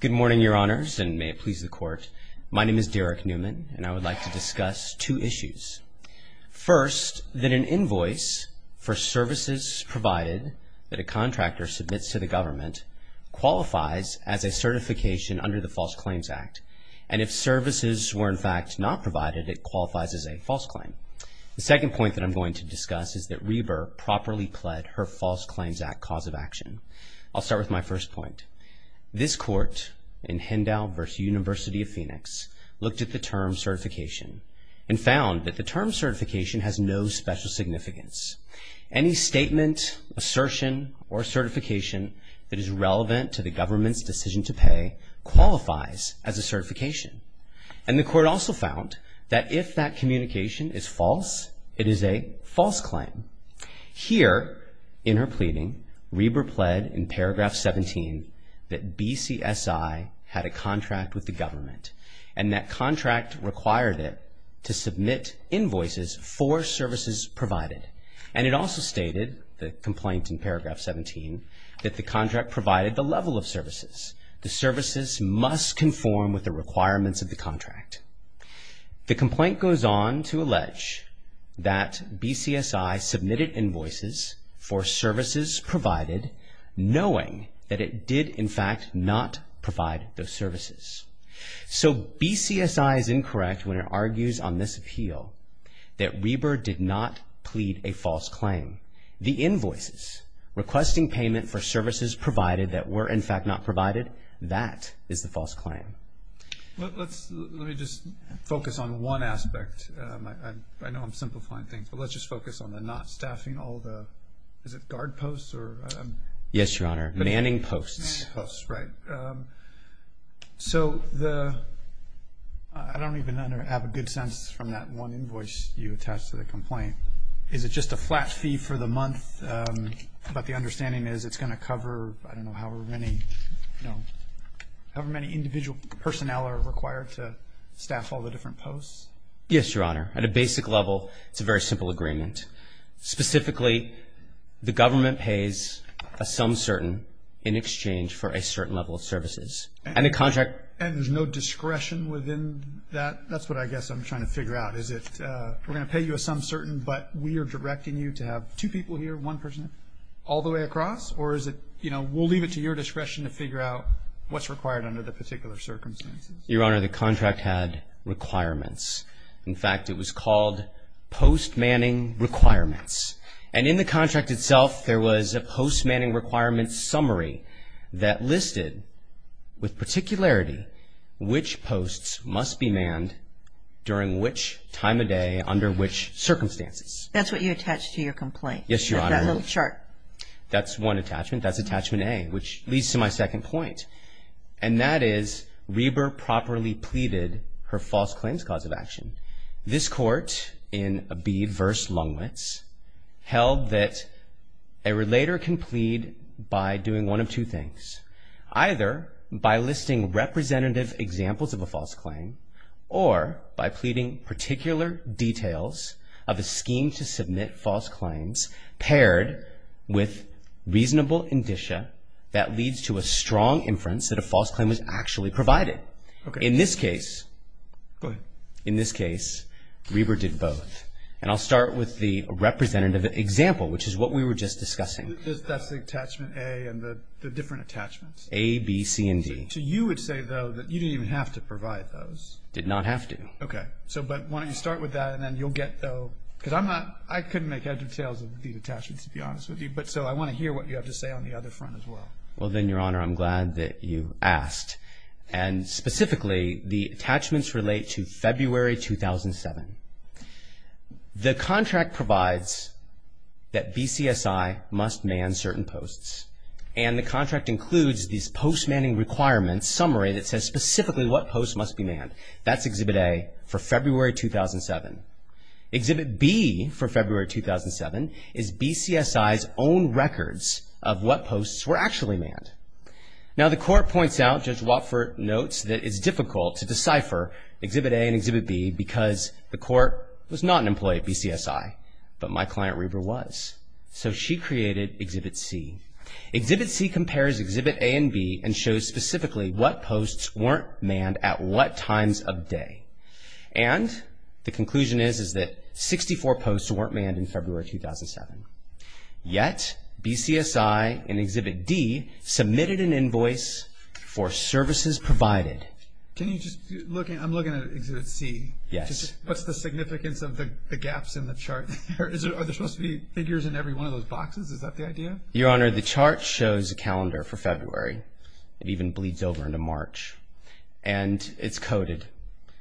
Good morning, Your Honors, and may it please the Court. My name is Derek Newman, and I would like to discuss two issues. First, that an invoice for services provided that a contractor submits to the government qualifies as a certification under the False Claims Act, and if services were in fact not provided, it qualifies as a false claim. The second point that I'm going to discuss is that I'll start with my first point. This Court in Hendow v. University of Phoenix looked at the term certification and found that the term certification has no special significance. Any statement, assertion, or certification that is relevant to the government's decision to pay qualifies as a certification. And the Court also found that if that communication is false, it is a false claim. Here, in her pleading, Reiber pled in paragraph 17 that BCSI had a contract with the government, and that contract required it to submit invoices for services provided. And it also stated, the complaint in paragraph 17, that the contract provided the level of services. The services must conform with the knowing that it did, in fact, not provide those services. So, BCSI is incorrect when it argues on this appeal that Reiber did not plead a false claim. The invoices requesting payment for services provided that were, in fact, not provided, that is the false claim. Let me just focus on one aspect. I know I'm simplifying things, but let's just focus on the not staffing all the, is it guard posts or? Yes, Your Honor, manning posts. Manning posts, right. So, I don't even have a good sense from that one invoice you attached to the complaint. Is it just a flat fee for the personnel are required to staff all the different posts? Yes, Your Honor. At a basic level, it's a very simple agreement. Specifically, the government pays a sum certain in exchange for a certain level of services. And the contract. And there's no discretion within that? That's what I guess I'm trying to figure out. Is it, we're going to pay you a sum certain, but we are directing you to have two people here, one person, all the way across? Or is it, you know, we'll leave it to your discretion to figure out what's required under the particular circumstances? Your Honor, the contract had requirements. In fact, it was called post-manning requirements. And in the contract itself, there was a post-manning requirements summary that listed, with particularity, which posts must be manned during which time of day under which circumstances. That's what you attached to your complaint? Yes, Your Honor. That little chart. That's one attachment. That's attachment A, which leads to my second point. And that is, Reber properly pleaded her false claims cause of action. This court, in B, verse Lungwitz, held that a relator can plead by doing one of two things. Either by listing representative examples of a false claim, or by pleading particular details of a scheme to submit false claims paired with reasonable indicia that leads to a strong inference that a false claim was actually provided. Okay. In this case, Reber did both. And I'll start with the representative example, which is what we were just discussing. That's the attachment A and the different attachments? A, B, C, and D. So you would say, though, that you didn't even have to provide those? Did not have to. Okay. So but why don't you start with that, and then you'll get, though, because I'm not, I couldn't make edge of tails of these attachments, to be honest with you. But so I want to hear what you have to say on the other front as well. Well, then, Your Honor, I'm glad that you asked. And specifically, the attachments relate to February 2007. The contract provides that specifically what posts must be manned. That's Exhibit A for February 2007. Exhibit B for February 2007 is BCSI's own records of what posts were actually manned. Now, the Court points out, Judge Watford notes, that it's difficult to decipher Exhibit A and Exhibit B because the Court was not an employee of BCSI. But my client, Reber, was. So she created Exhibit C. Exhibit C compares Exhibit A and B and shows specifically what posts weren't manned at what times of day. And the conclusion is, is that 64 posts weren't manned in February 2007. Yet, BCSI in Exhibit D submitted an invoice for services provided. Can you just, I'm looking at Exhibit C. Yes. What's the significance of the gaps in the chart? Are there supposed to be figures in every one of those boxes? Is that the idea? Your Honor, the chart shows a calendar for February. It even bleeds over into March. And it's coded.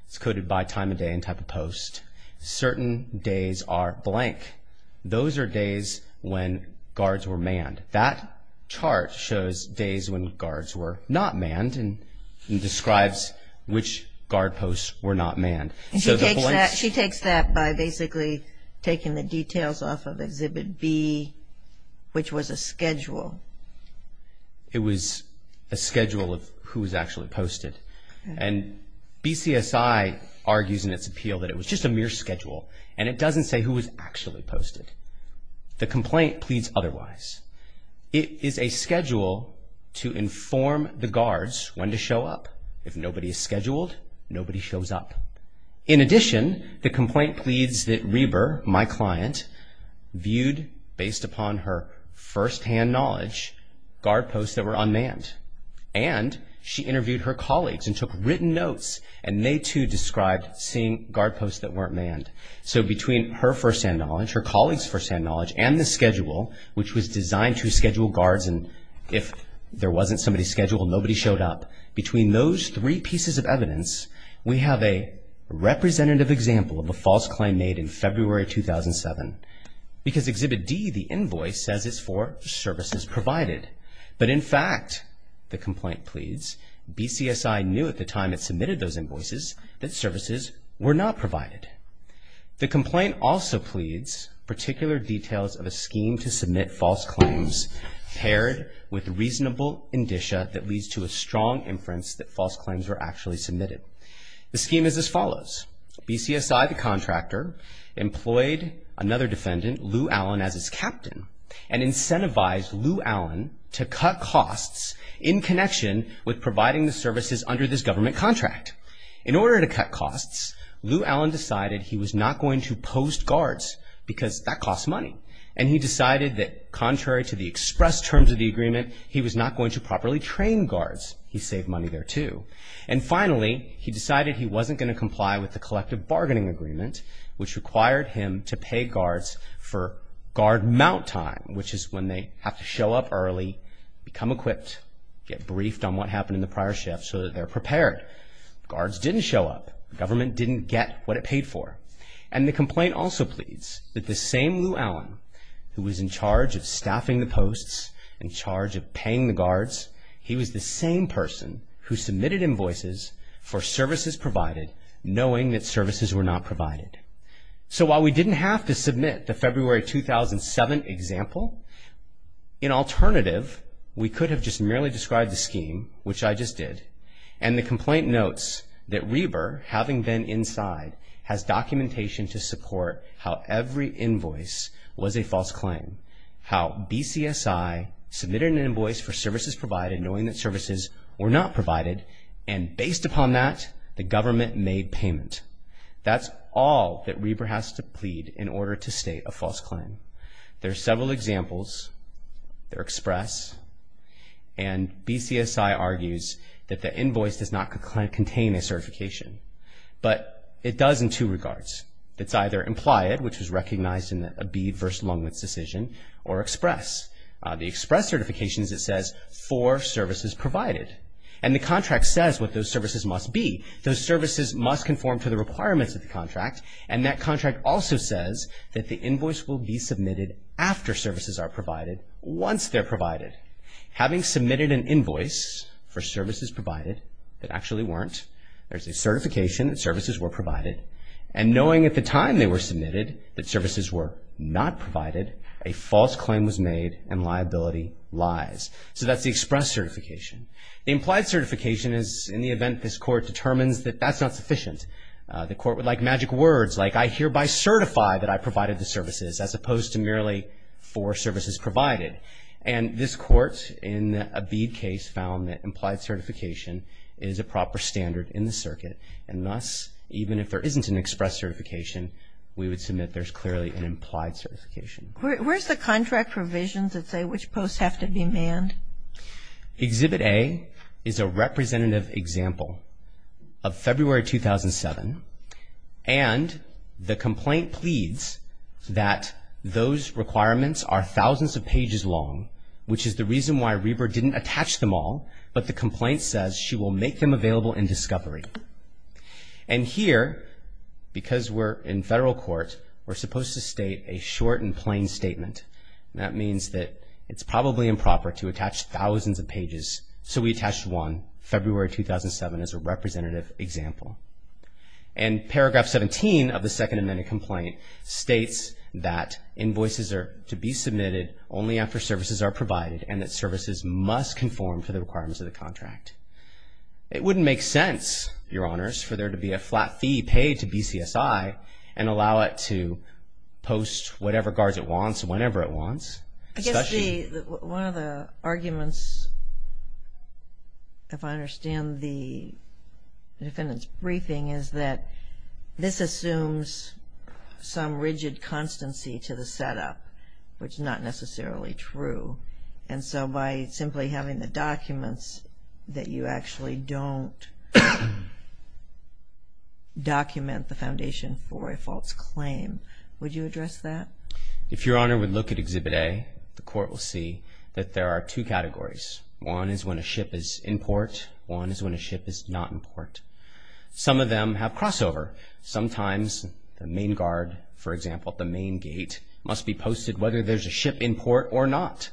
It's coded by time of day and type of post. Certain days are blank. Those are days when guards were manned. That chart shows days when guards were not manned and describes which guard posts were not manned. She takes that by basically taking the details off of Exhibit B, which was a schedule. It was a schedule of who was actually posted. And BCSI argues in its appeal that it was just a mere schedule. And it doesn't say who was actually posted. The complaint pleads otherwise. It is a schedule to inform the guards when to show up. If nobody is scheduled, nobody shows up. In addition, the complaint pleads that Reber, my client, viewed, based upon her firsthand knowledge, guard posts that were unmanned. And she interviewed her colleagues and took written notes. And they, too, described seeing guard posts that weren't manned. So between her firsthand knowledge, her colleagues' firsthand knowledge, and the schedule, which was designed to schedule guards and if there wasn't somebody scheduled, nobody showed up, between those three pieces of evidence, we have a representative example of a false claim made in February 2007. Because Exhibit D, the invoice, says it's for services provided. But in fact, the complaint pleads, BCSI knew at the time it submitted those invoices that services were not provided. The complaint also pleads particular details of a scheme to submit false claims paired with reasonable indicia that leads to a strong inference that false claims were actually submitted. The scheme is as follows. BCSI, the contractor, employed another defendant, Lou Allen, as its captain and incentivized Lou Allen to cut costs in connection with providing the services under this government contract. In order to cut costs, Lou Allen decided he was not going to post guards because that was contrary to the express terms of the agreement. He was not going to properly train guards. He saved money there, too. And finally, he decided he wasn't going to comply with the collective bargaining agreement, which required him to pay guards for guard mount time, which is when they have to show up early, become equipped, get briefed on what happened in the prior shift so that they're prepared. Guards didn't show up. Government didn't get what it paid for. And the complaint also pleads that the same Lou Allen, who was in charge of staffing the posts, in charge of paying the guards, he was the same person who submitted invoices for services provided, knowing that services were not provided. So while we didn't have to submit the February 2007 example, in alternative, we could have just merely described the scheme, which I just did, and the government, having been inside, has documentation to support how every invoice was a false claim, how BCSI submitted an invoice for services provided, knowing that services were not provided, and based upon that, the government made payment. That's all that Reber has to plead in order to obtain a certification. But it does in two regards. It's either implied, which was recognized in the Abebe v. Longwood's decision, or express. The express certification is, it says, for services provided. And the contract says what those services must be. Those services must conform to the requirements of the contract, and that contract also says that the invoice will be submitted after services are provided, once they're provided. Having submitted an invoice for services provided, that actually weren't, there's a certification that services were provided, and knowing at the time they were submitted that services were not provided, a false claim was made, and liability lies. So that's the express certification. The implied certification is in the event this Court determines that that's not sufficient. The Court would like magic words, like, I hereby certify that I Abebe case found that implied certification is a proper standard in the circuit, and thus, even if there isn't an express certification, we would submit there's clearly an implied certification. Where's the contract provisions that say which posts have to be manned? Exhibit A is a representative example of February 2007, and the complaint pleads that those requirements are thousands of pages long, which is the reason why Reber didn't attach them all, but the complaint says she will make them available in discovery. And here, because we're in federal court, we're supposed to state a short and plain statement, and that means that it's probably improper to attach thousands of pages, so we attached one, February 2007, as a representative example. And paragraph 17 of the Second Amendment complaint states that invoices are to be manned and that services must conform to the requirements of the contract. It wouldn't make sense, Your Honors, for there to be a flat fee paid to BCSI and allow it to post whatever guards it wants whenever it wants. I guess one of the arguments, if I understand the defendant's briefing, is that this assumes some rigid constancy to the setup, which is not necessarily true. And so by simply having the documents that you actually don't document the foundation for a false claim, would you address that? If Your Honor would look at Exhibit A, the court will see that there are two categories. One is when a ship is in port. One is when a ship is not in port. Some of them have crossover. Sometimes the main guard, for example, at the main gate, must be posted whether there's a ship in port or not.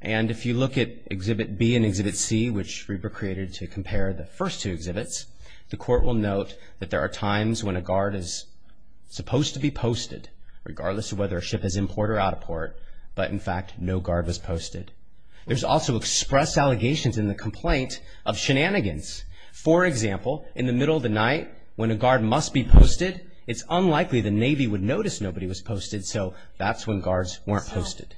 And if you look at Exhibit B and Exhibit C, which were created to compare the first two exhibits, the court will note that there are times when a guard is supposed to be posted, regardless of whether a ship is in port or out of port, but in fact no guard was posted. There's also express allegations in the complaint of shenanigans. For example, in the middle of the night, when a guard must be posted, it's unlikely the Navy would notice nobody was posted, so that's when guards weren't posted.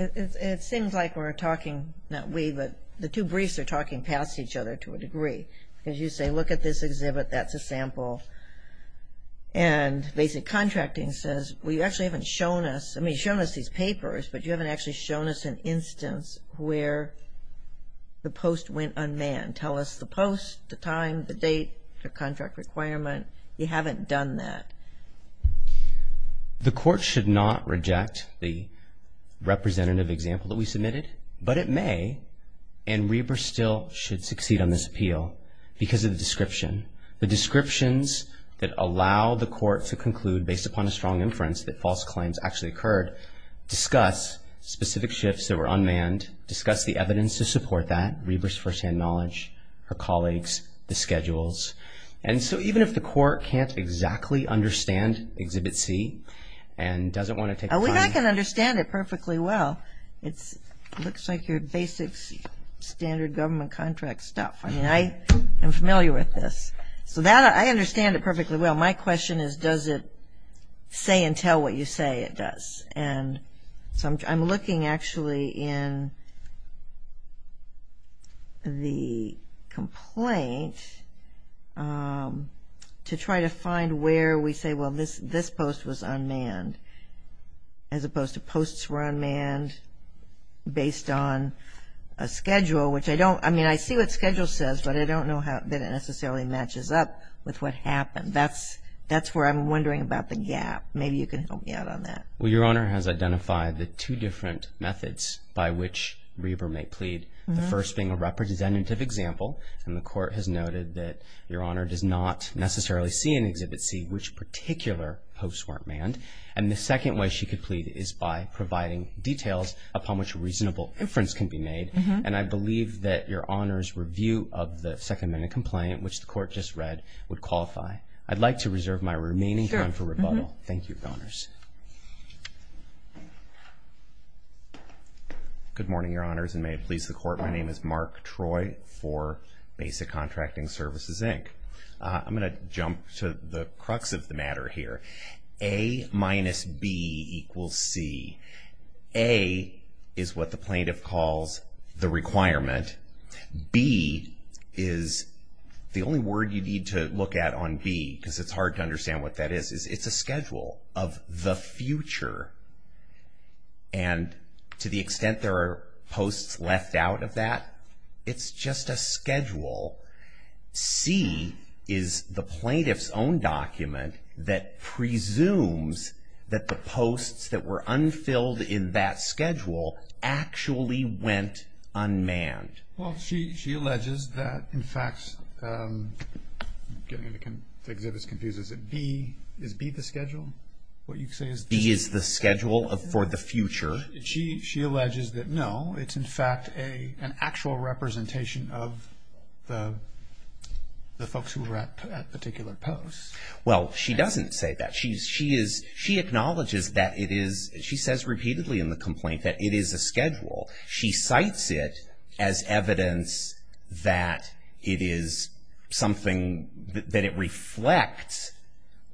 It seems like we're talking, not we, but the two briefs are talking past each other to a degree. Because you say, look at this exhibit, that's a sample. And basic contracting says, well, you actually haven't shown us, I mean, you've shown us these papers, but you haven't actually shown us an instance where the post went unmanned. Tell us the post, the time, the date, the contract requirement. You haven't done that. The court should not reject the representative example that we submitted, but it may, and Reber still should succeed on this appeal because of the descriptions that allow the court to conclude, based upon a strong inference, that false claims actually occurred. Discuss specific shifts that were unmanned, discuss the evidence to support that, Reber's firsthand knowledge, her colleagues, the schedules. And so even if the court can't exactly understand Exhibit C and doesn't want to take time. I think I can understand it perfectly well. It looks like your basic standard government contract stuff. I mean, I am familiar with this. So that, I understand it perfectly well. My question is, does it say and tell what you say it does? And so I'm looking actually in the complaint to try to find where we say, well, this post was unmanned, as opposed to posts were unmanned based on a That's where I'm wondering about the gap. Maybe you can help me out on that. Well, Your Honor has identified the two different methods by which Reber may plead. The first being a representative example, and the court has noted that Your Honor does not necessarily see in Exhibit C which particular posts weren't manned. And the second way she could plead is by providing details upon which reasonable inference can be made. And I believe that Your Honor's review of the second minute complaint, which the court just read, would qualify. I'd like to reserve my remaining time for rebuttal. Thank you, Your Honors. Good morning, Your Honors, and may it please the court, my name is Mark Troy for Basic Contracting Services, Inc. I'm going to jump to the crux of the matter here. A minus B equals C. A is what the plaintiff calls the requirement. B is the only word you need to look at on B because it's hard to understand what that is. It's a schedule of the future. And to the extent there are posts left out of that, it's just a schedule. C is the plaintiff's own document that presumes that the posts that were unfilled in that schedule actually went unmanned. Well, she alleges that, in fact, getting the exhibits confused, is it B, is B the schedule? What you say is B is the schedule for the future. She alleges that, no, it's in fact an actual representation of the folks who were at particular posts. Well, she doesn't say that. She acknowledges that it is, she says repeatedly in the complaint, that it is a schedule. She cites it as evidence that it is something, that it reflects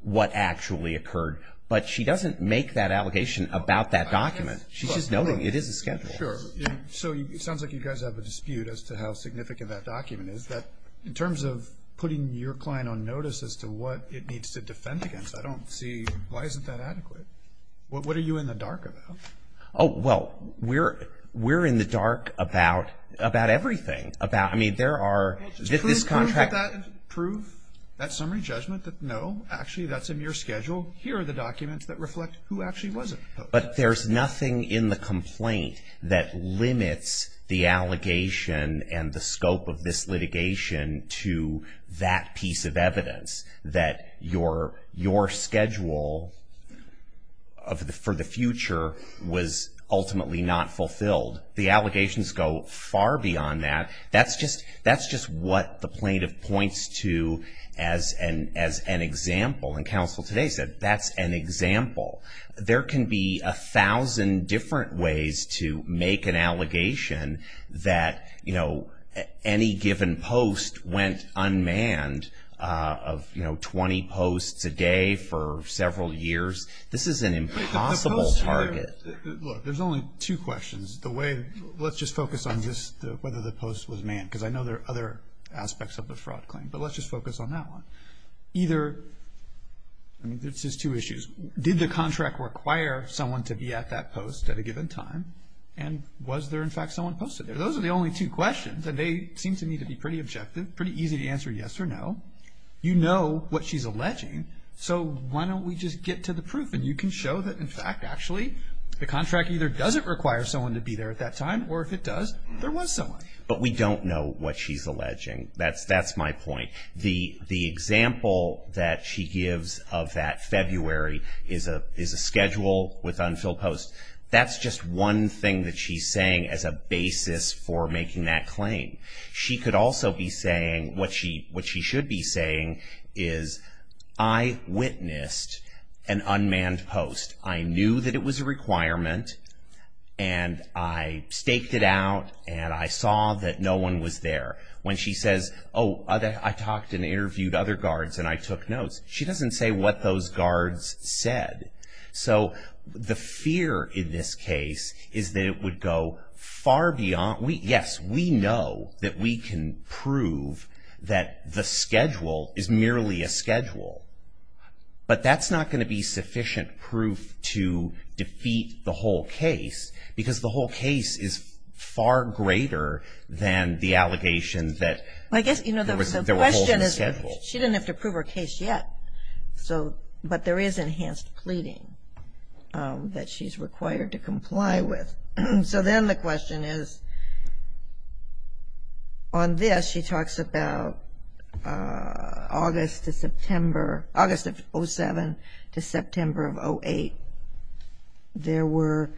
what actually occurred. But she doesn't make that allegation about that document. She's just noting it is a schedule. Sure. So it sounds like you guys have a dispute as to how significant that document is. In terms of putting your client on notice as to what it needs to defend against, I don't see, why isn't that adequate? What are you in the dark about? Oh, well, we're in the dark about everything. Well, just prove that summary judgment that, no, actually that's in your schedule. Here are the documents that reflect who actually was at the post. But there's nothing in the complaint that limits the allegation and the scope of this litigation to that piece of evidence, that your schedule for the future was ultimately not fulfilled. The allegations go far beyond that. That's just what the plaintiff points to as an example. And counsel today said that's an example. There can be a thousand different ways to make an allegation that any given post went unmanned of 20 posts a day for several years. This is an impossible target. Look, there's only two questions. Let's just focus on whether the post was manned, because I know there are other aspects of the fraud claim. But let's just focus on that one. Either, I mean, there's just two issues. Did the contract require someone to be at that post at a given time? And was there, in fact, someone posted there? Those are the only two questions, and they seem to me to be pretty objective, pretty easy to answer yes or no. You know what she's alleging, so why don't we just get to the proof? And you can show that, in fact, actually, the contract either doesn't require someone to be there at that time, or if it does, there was someone. But we don't know what she's alleging. That's my point. The example that she gives of that February is a schedule with unfilled posts. That's just one thing that she's saying as a basis for making that claim. She could also be saying, what she should be saying is, I witnessed an unmanned post. I knew that it was a requirement, and I staked it out, and I saw that no one was there. When she says, oh, I talked and interviewed other guards, and I took notes, she doesn't say what those guards said. So the fear in this case is that it would go far beyond. Yes, we know that we can prove that the schedule is merely a schedule, but that's not going to be sufficient proof to defeat the whole case, because the whole case is far greater than the allegation that there was an unfilled schedule. She doesn't have to prove her case yet, but there is enhanced pleading that she's required to comply with. So then the question is, on this she talks about August of 2007 to September of 2008. There were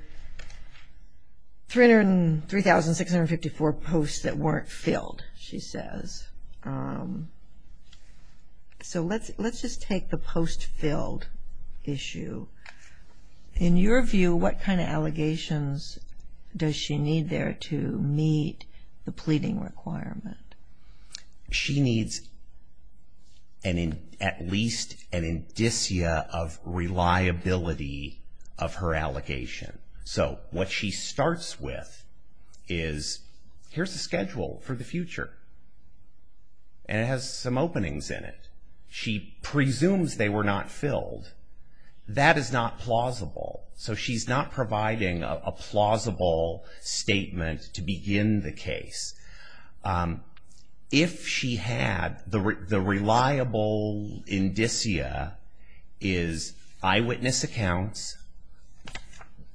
3,654 posts that weren't filled, she says. So let's just take the post-filled issue. In your view, what kind of allegations does she need there to meet the pleading requirement? She needs at least an indicia of reliability of her allegation. So what she starts with is, here's the schedule for the future, and it has some openings in it. She presumes they were not filled. That is not plausible, so she's not providing a plausible statement to begin the case. If she had, the reliable indicia is eyewitness accounts,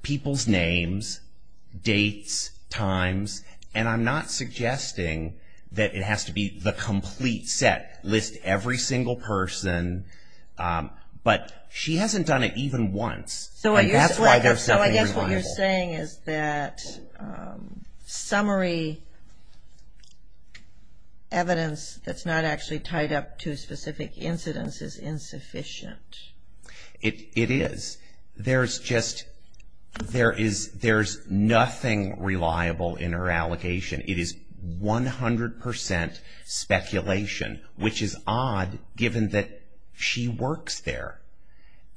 people's names, dates, times, and I'm not suggesting that it has to be the complete set, list every single person, but she hasn't done it even once, and that's why they're so unreliable. What you're saying is that summary evidence that's not actually tied up to specific incidents is insufficient. It is. There's just, there's nothing reliable in her allegation. It is 100% speculation, which is odd given that she works there,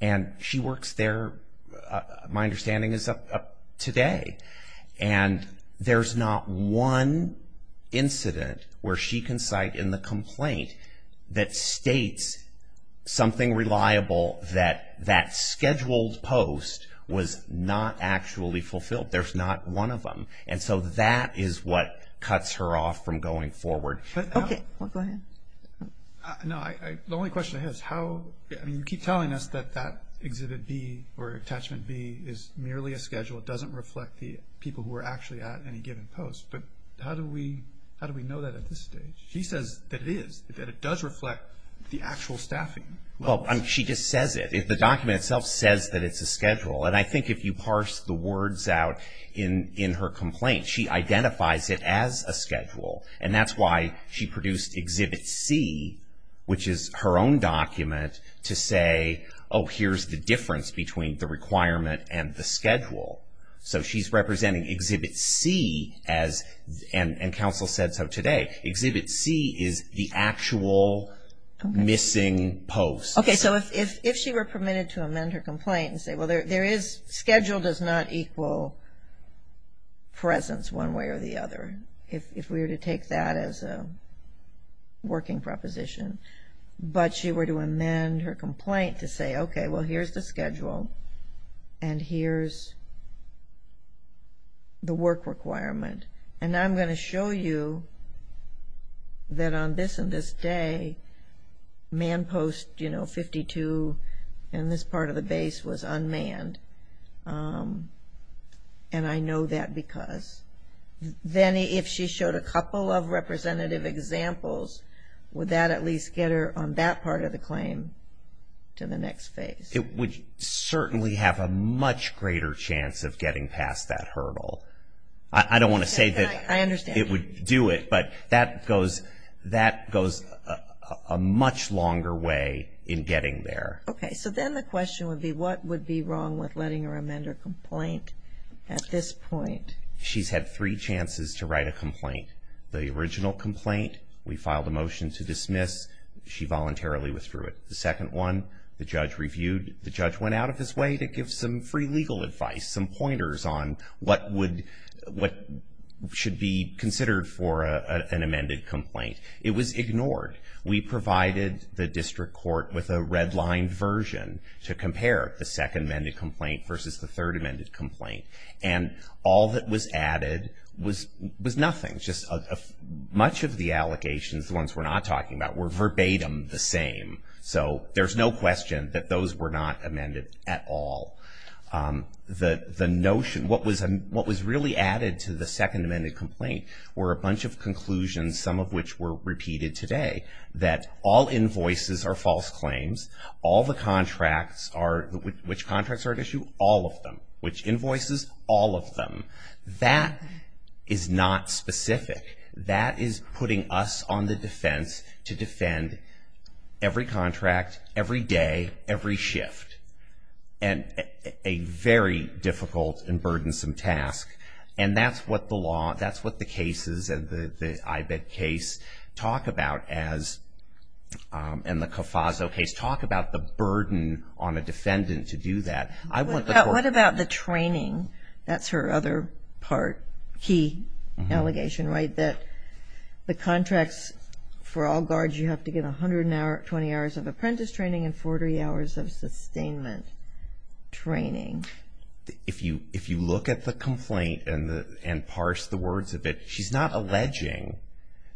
and she works there, my understanding is, up today, and there's not one incident where she can cite in the complaint that states something reliable that that scheduled post was not actually fulfilled. There's not one of them, and so that is what cuts her off from going forward. Okay, go ahead. No, the only question I have is how, I mean you keep telling us that that Exhibit B or Attachment B is merely a schedule, it doesn't reflect the people who are actually at any given post, but how do we know that at this stage? She says that it is, that it does reflect the actual staffing. Well, she just says it. The document itself says that it's a schedule, and I think if you parse the words out in her complaint, she identifies it as a schedule, and that's why she produced Exhibit C, which is her own document to say, oh, here's the difference between the requirement and the schedule. So she's representing Exhibit C as, and counsel said so today, Exhibit C is the actual missing post. Okay, so if she were permitted to amend her complaint and say, well, there is, schedule does not equal presence one way or the other, if we were to take that as a working proposition, but she were to amend her complaint to say, okay, well, here's the schedule, and here's the work requirement, and I'm going to show you that on this and this day, man post 52 in this part of the base was unmanned, and I know that because. Then if she showed a couple of representative examples, would that at least get her on that part of the claim to the next phase? It would certainly have a much greater chance of getting past that hurdle. I don't want to say that it would do it, but that goes a much longer way in getting there. Okay, so then the question would be, what would be wrong with letting her amend her complaint at this point? She's had three chances to write a complaint. The original complaint, we filed a motion to dismiss. She voluntarily withdrew it. The second one, the judge reviewed. The judge went out of his way to give some free legal advice, some pointers on what should be considered for an amended complaint. It was ignored. We provided the district court with a redlined version to compare the second amended complaint versus the third amended complaint, and all that was added was nothing, just much of the allegations, the ones we're not talking about, were verbatim the same. So there's no question that those were not amended at all. The notion, what was really added to the second amended complaint were a bunch of conclusions, some of which were repeated today, that all invoices are false claims. All the contracts are, which contracts are at issue? All of them. Which invoices? All of them. That is not specific. That is putting us on the defense to defend every contract, every day, every shift, and a very difficult and burdensome task, and that's what the law, that's what the cases and the IBED case talk about as, and the CAFASO case, talk about the burden on a defendant to do that. What about the training? That's her other part, key allegation, right, that the contracts for all guards, you have to get 120 hours of apprentice training and 40 hours of sustainment training. If you look at the complaint and parse the words of it, she's not alleging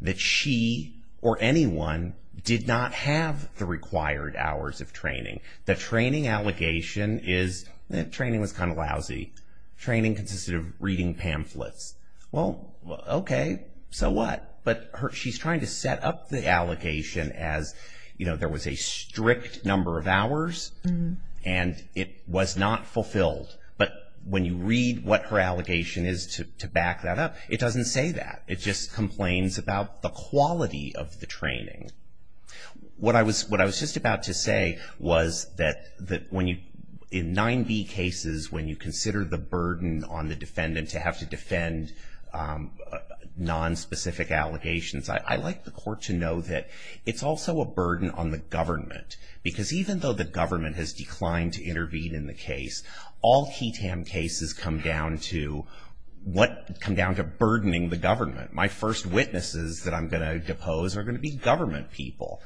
that she or anyone did not have the required hours of training. The training allegation is that training was kind of lousy. Training consisted of reading pamphlets. Well, okay, so what? But she's trying to set up the allegation as, you know, there was a strict number of hours and it was not fulfilled. But when you read what her allegation is to back that up, it doesn't say that. It just complains about the quality of the training. What I was just about to say was that in 9B cases, when you consider the burden on the defendant to have to defend nonspecific allegations, I like the court to know that it's also a burden on the government. Because even though the government has declined to intervene in the case, all KETAM cases come down to burdening the government. My first witnesses that I'm going to depose are going to be government people,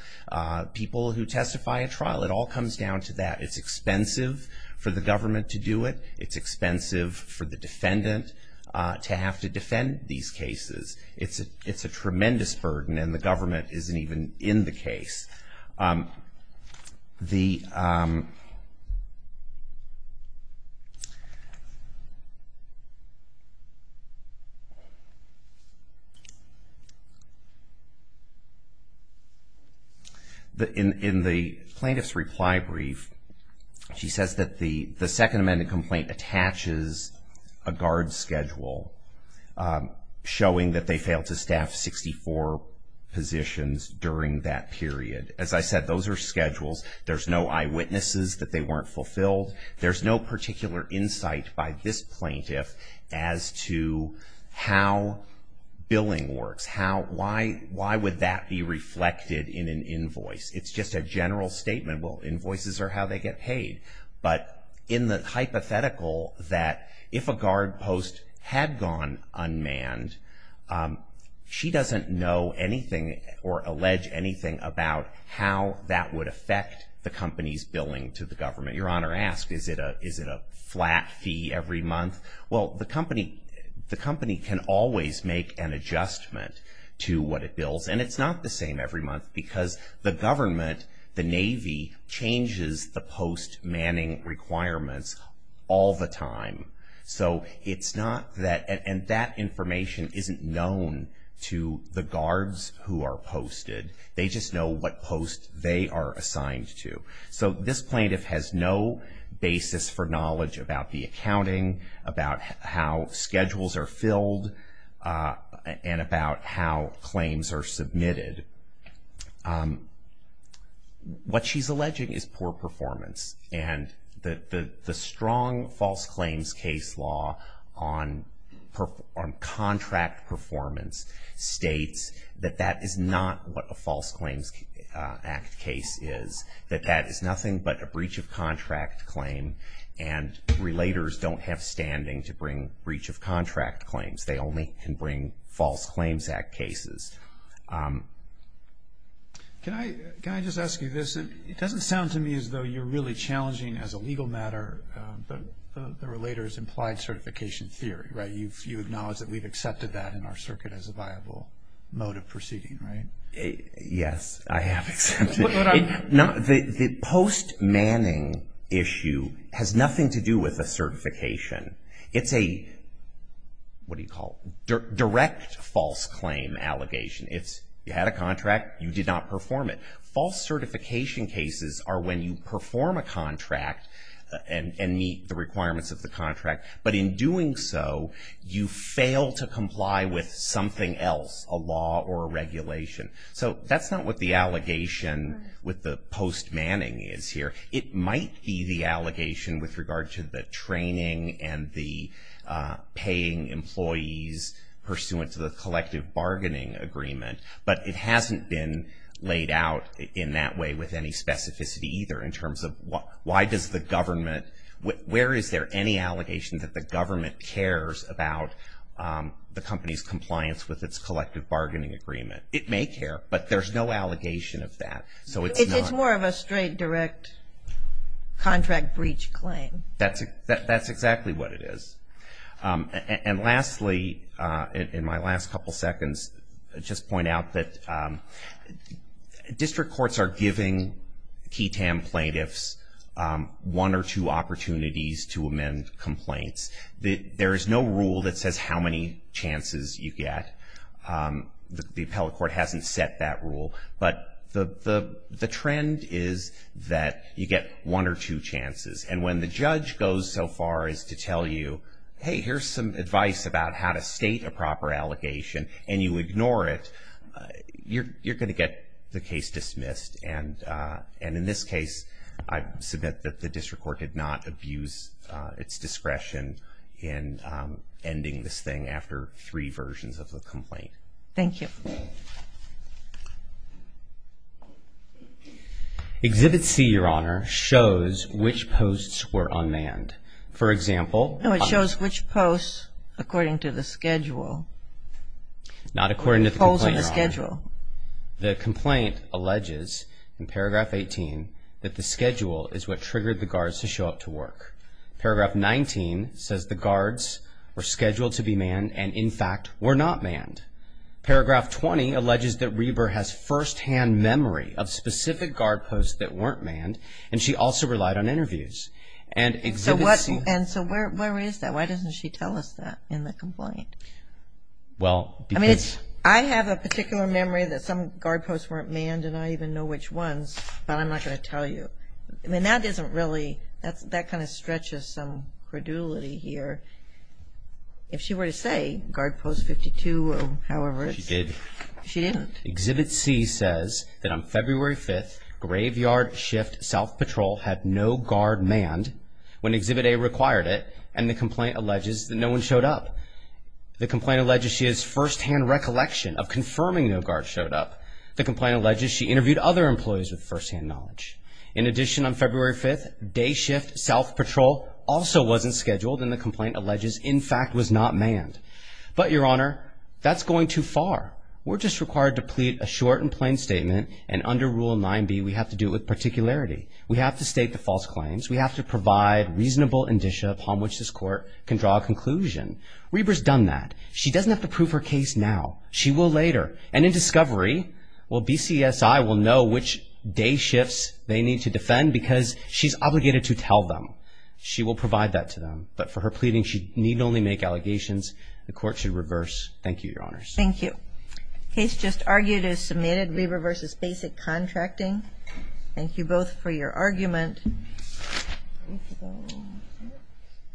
people who testify at trial. It all comes down to that. It's expensive for the government to do it. It's expensive for the defendant to have to defend these cases. It's a tremendous burden, and the government isn't even in the case. In the plaintiff's reply brief, she says that the second amended complaint attaches a guard schedule, showing that they failed to staff 64 positions during that period. As I said, those are schedules. There's no eyewitnesses that they weren't fulfilled. There's no particular insight by this plaintiff as to how billing works. Why would that be reflected in an invoice? It's just a general statement. Well, invoices are how they get paid. But in the hypothetical that if a guard post had gone unmanned, she doesn't know anything or allege anything about how that would affect the company's billing to the government. Your Honor asked, is it a flat fee every month? Well, the company can always make an adjustment to what it bills, and it's not the same every month because the government, the Navy, changes the post manning requirements all the time. So it's not that, and that information isn't known to the guards who are posted. They just know what post they are assigned to. So this plaintiff has no basis for knowledge about the accounting, about how schedules are filled, and about how claims are submitted. What she's alleging is poor performance, and the strong false claims case law on contract performance states that that is not what a false claims act case is, that that is nothing but a breach of contract claim, and relators don't have standing to bring breach of contract claims. They only can bring false claims act cases. Can I just ask you this? It doesn't sound to me as though you're really challenging as a legal matter, but the relator's implied certification theory, right? You acknowledge that we've accepted that in our circuit as a viable mode of proceeding, right? Yes, I have accepted it. The post manning issue has nothing to do with a certification. It's a, what do you call it, direct false claim allegation. It's you had a contract, you did not perform it. False certification cases are when you perform a contract and meet the requirements of the contract, but in doing so you fail to comply with something else, a law or a regulation. So that's not what the allegation with the post manning is here. It might be the allegation with regard to the training and the paying employees pursuant to the collective bargaining agreement, but it hasn't been laid out in that way with any specificity either in terms of why does the government, where is there any allegation that the government cares about the company's compliance with its collective bargaining agreement? It may care, but there's no allegation of that. So it's not. It's more of a straight direct contract breach claim. That's exactly what it is. And lastly, in my last couple seconds, just point out that district courts are giving key TAM plaintiffs one or two opportunities to amend complaints. There is no rule that says how many chances you get. The appellate court hasn't set that rule, but the trend is that you get one or two chances. And when the judge goes so far as to tell you, hey, here's some advice about how to state a proper allegation and you ignore it, you're going to get the case dismissed. And in this case, I submit that the district court did not abuse its discretion in ending this thing after three versions of the complaint. Thank you. Exhibit C, Your Honor, shows which posts were unmanned. For example. No, it shows which posts according to the schedule. Not according to the complaint, Your Honor. The complaint alleges in paragraph 18 that the schedule is what triggered the guards to show up to work. Paragraph 19 says the guards were scheduled to be manned and, in fact, were not manned. Paragraph 20 alleges that Reber has firsthand memory of specific guard posts that weren't manned and she also relied on interviews. And exhibit C. And so where is that? Why doesn't she tell us that in the complaint? Well, because. I mean, I have a particular memory that some guard posts weren't manned and I don't even know which ones, but I'm not going to tell you. I mean, that isn't really. That kind of stretches some credulity here. If she were to say guard post 52, however. She did. She didn't. Exhibit C says that on February 5th, graveyard shift south patrol had no guard manned when exhibit A required it and the complaint alleges that no one showed up. The complaint alleges she has firsthand recollection of confirming no guards showed up. The complaint alleges she interviewed other employees with firsthand knowledge. In addition, on February 5th, day shift south patrol also wasn't scheduled and the complaint alleges, in fact, was not manned. But, Your Honor, that's going too far. We're just required to plead a short and plain statement and under Rule 9b we have to do it with particularity. We have to state the false claims. We have to provide reasonable indicia upon which this court can draw a conclusion. Reber's done that. She doesn't have to prove her case now. She will later. And in discovery, well, BCSI will know which day shifts they need to defend because she's obligated to tell them. She will provide that to them. But for her pleading, she need only make allegations. The court should reverse. Thank you, Your Honors. Thank you. Case just argued is submitted. Reber v. Basic Contracting. Thank you both for your argument.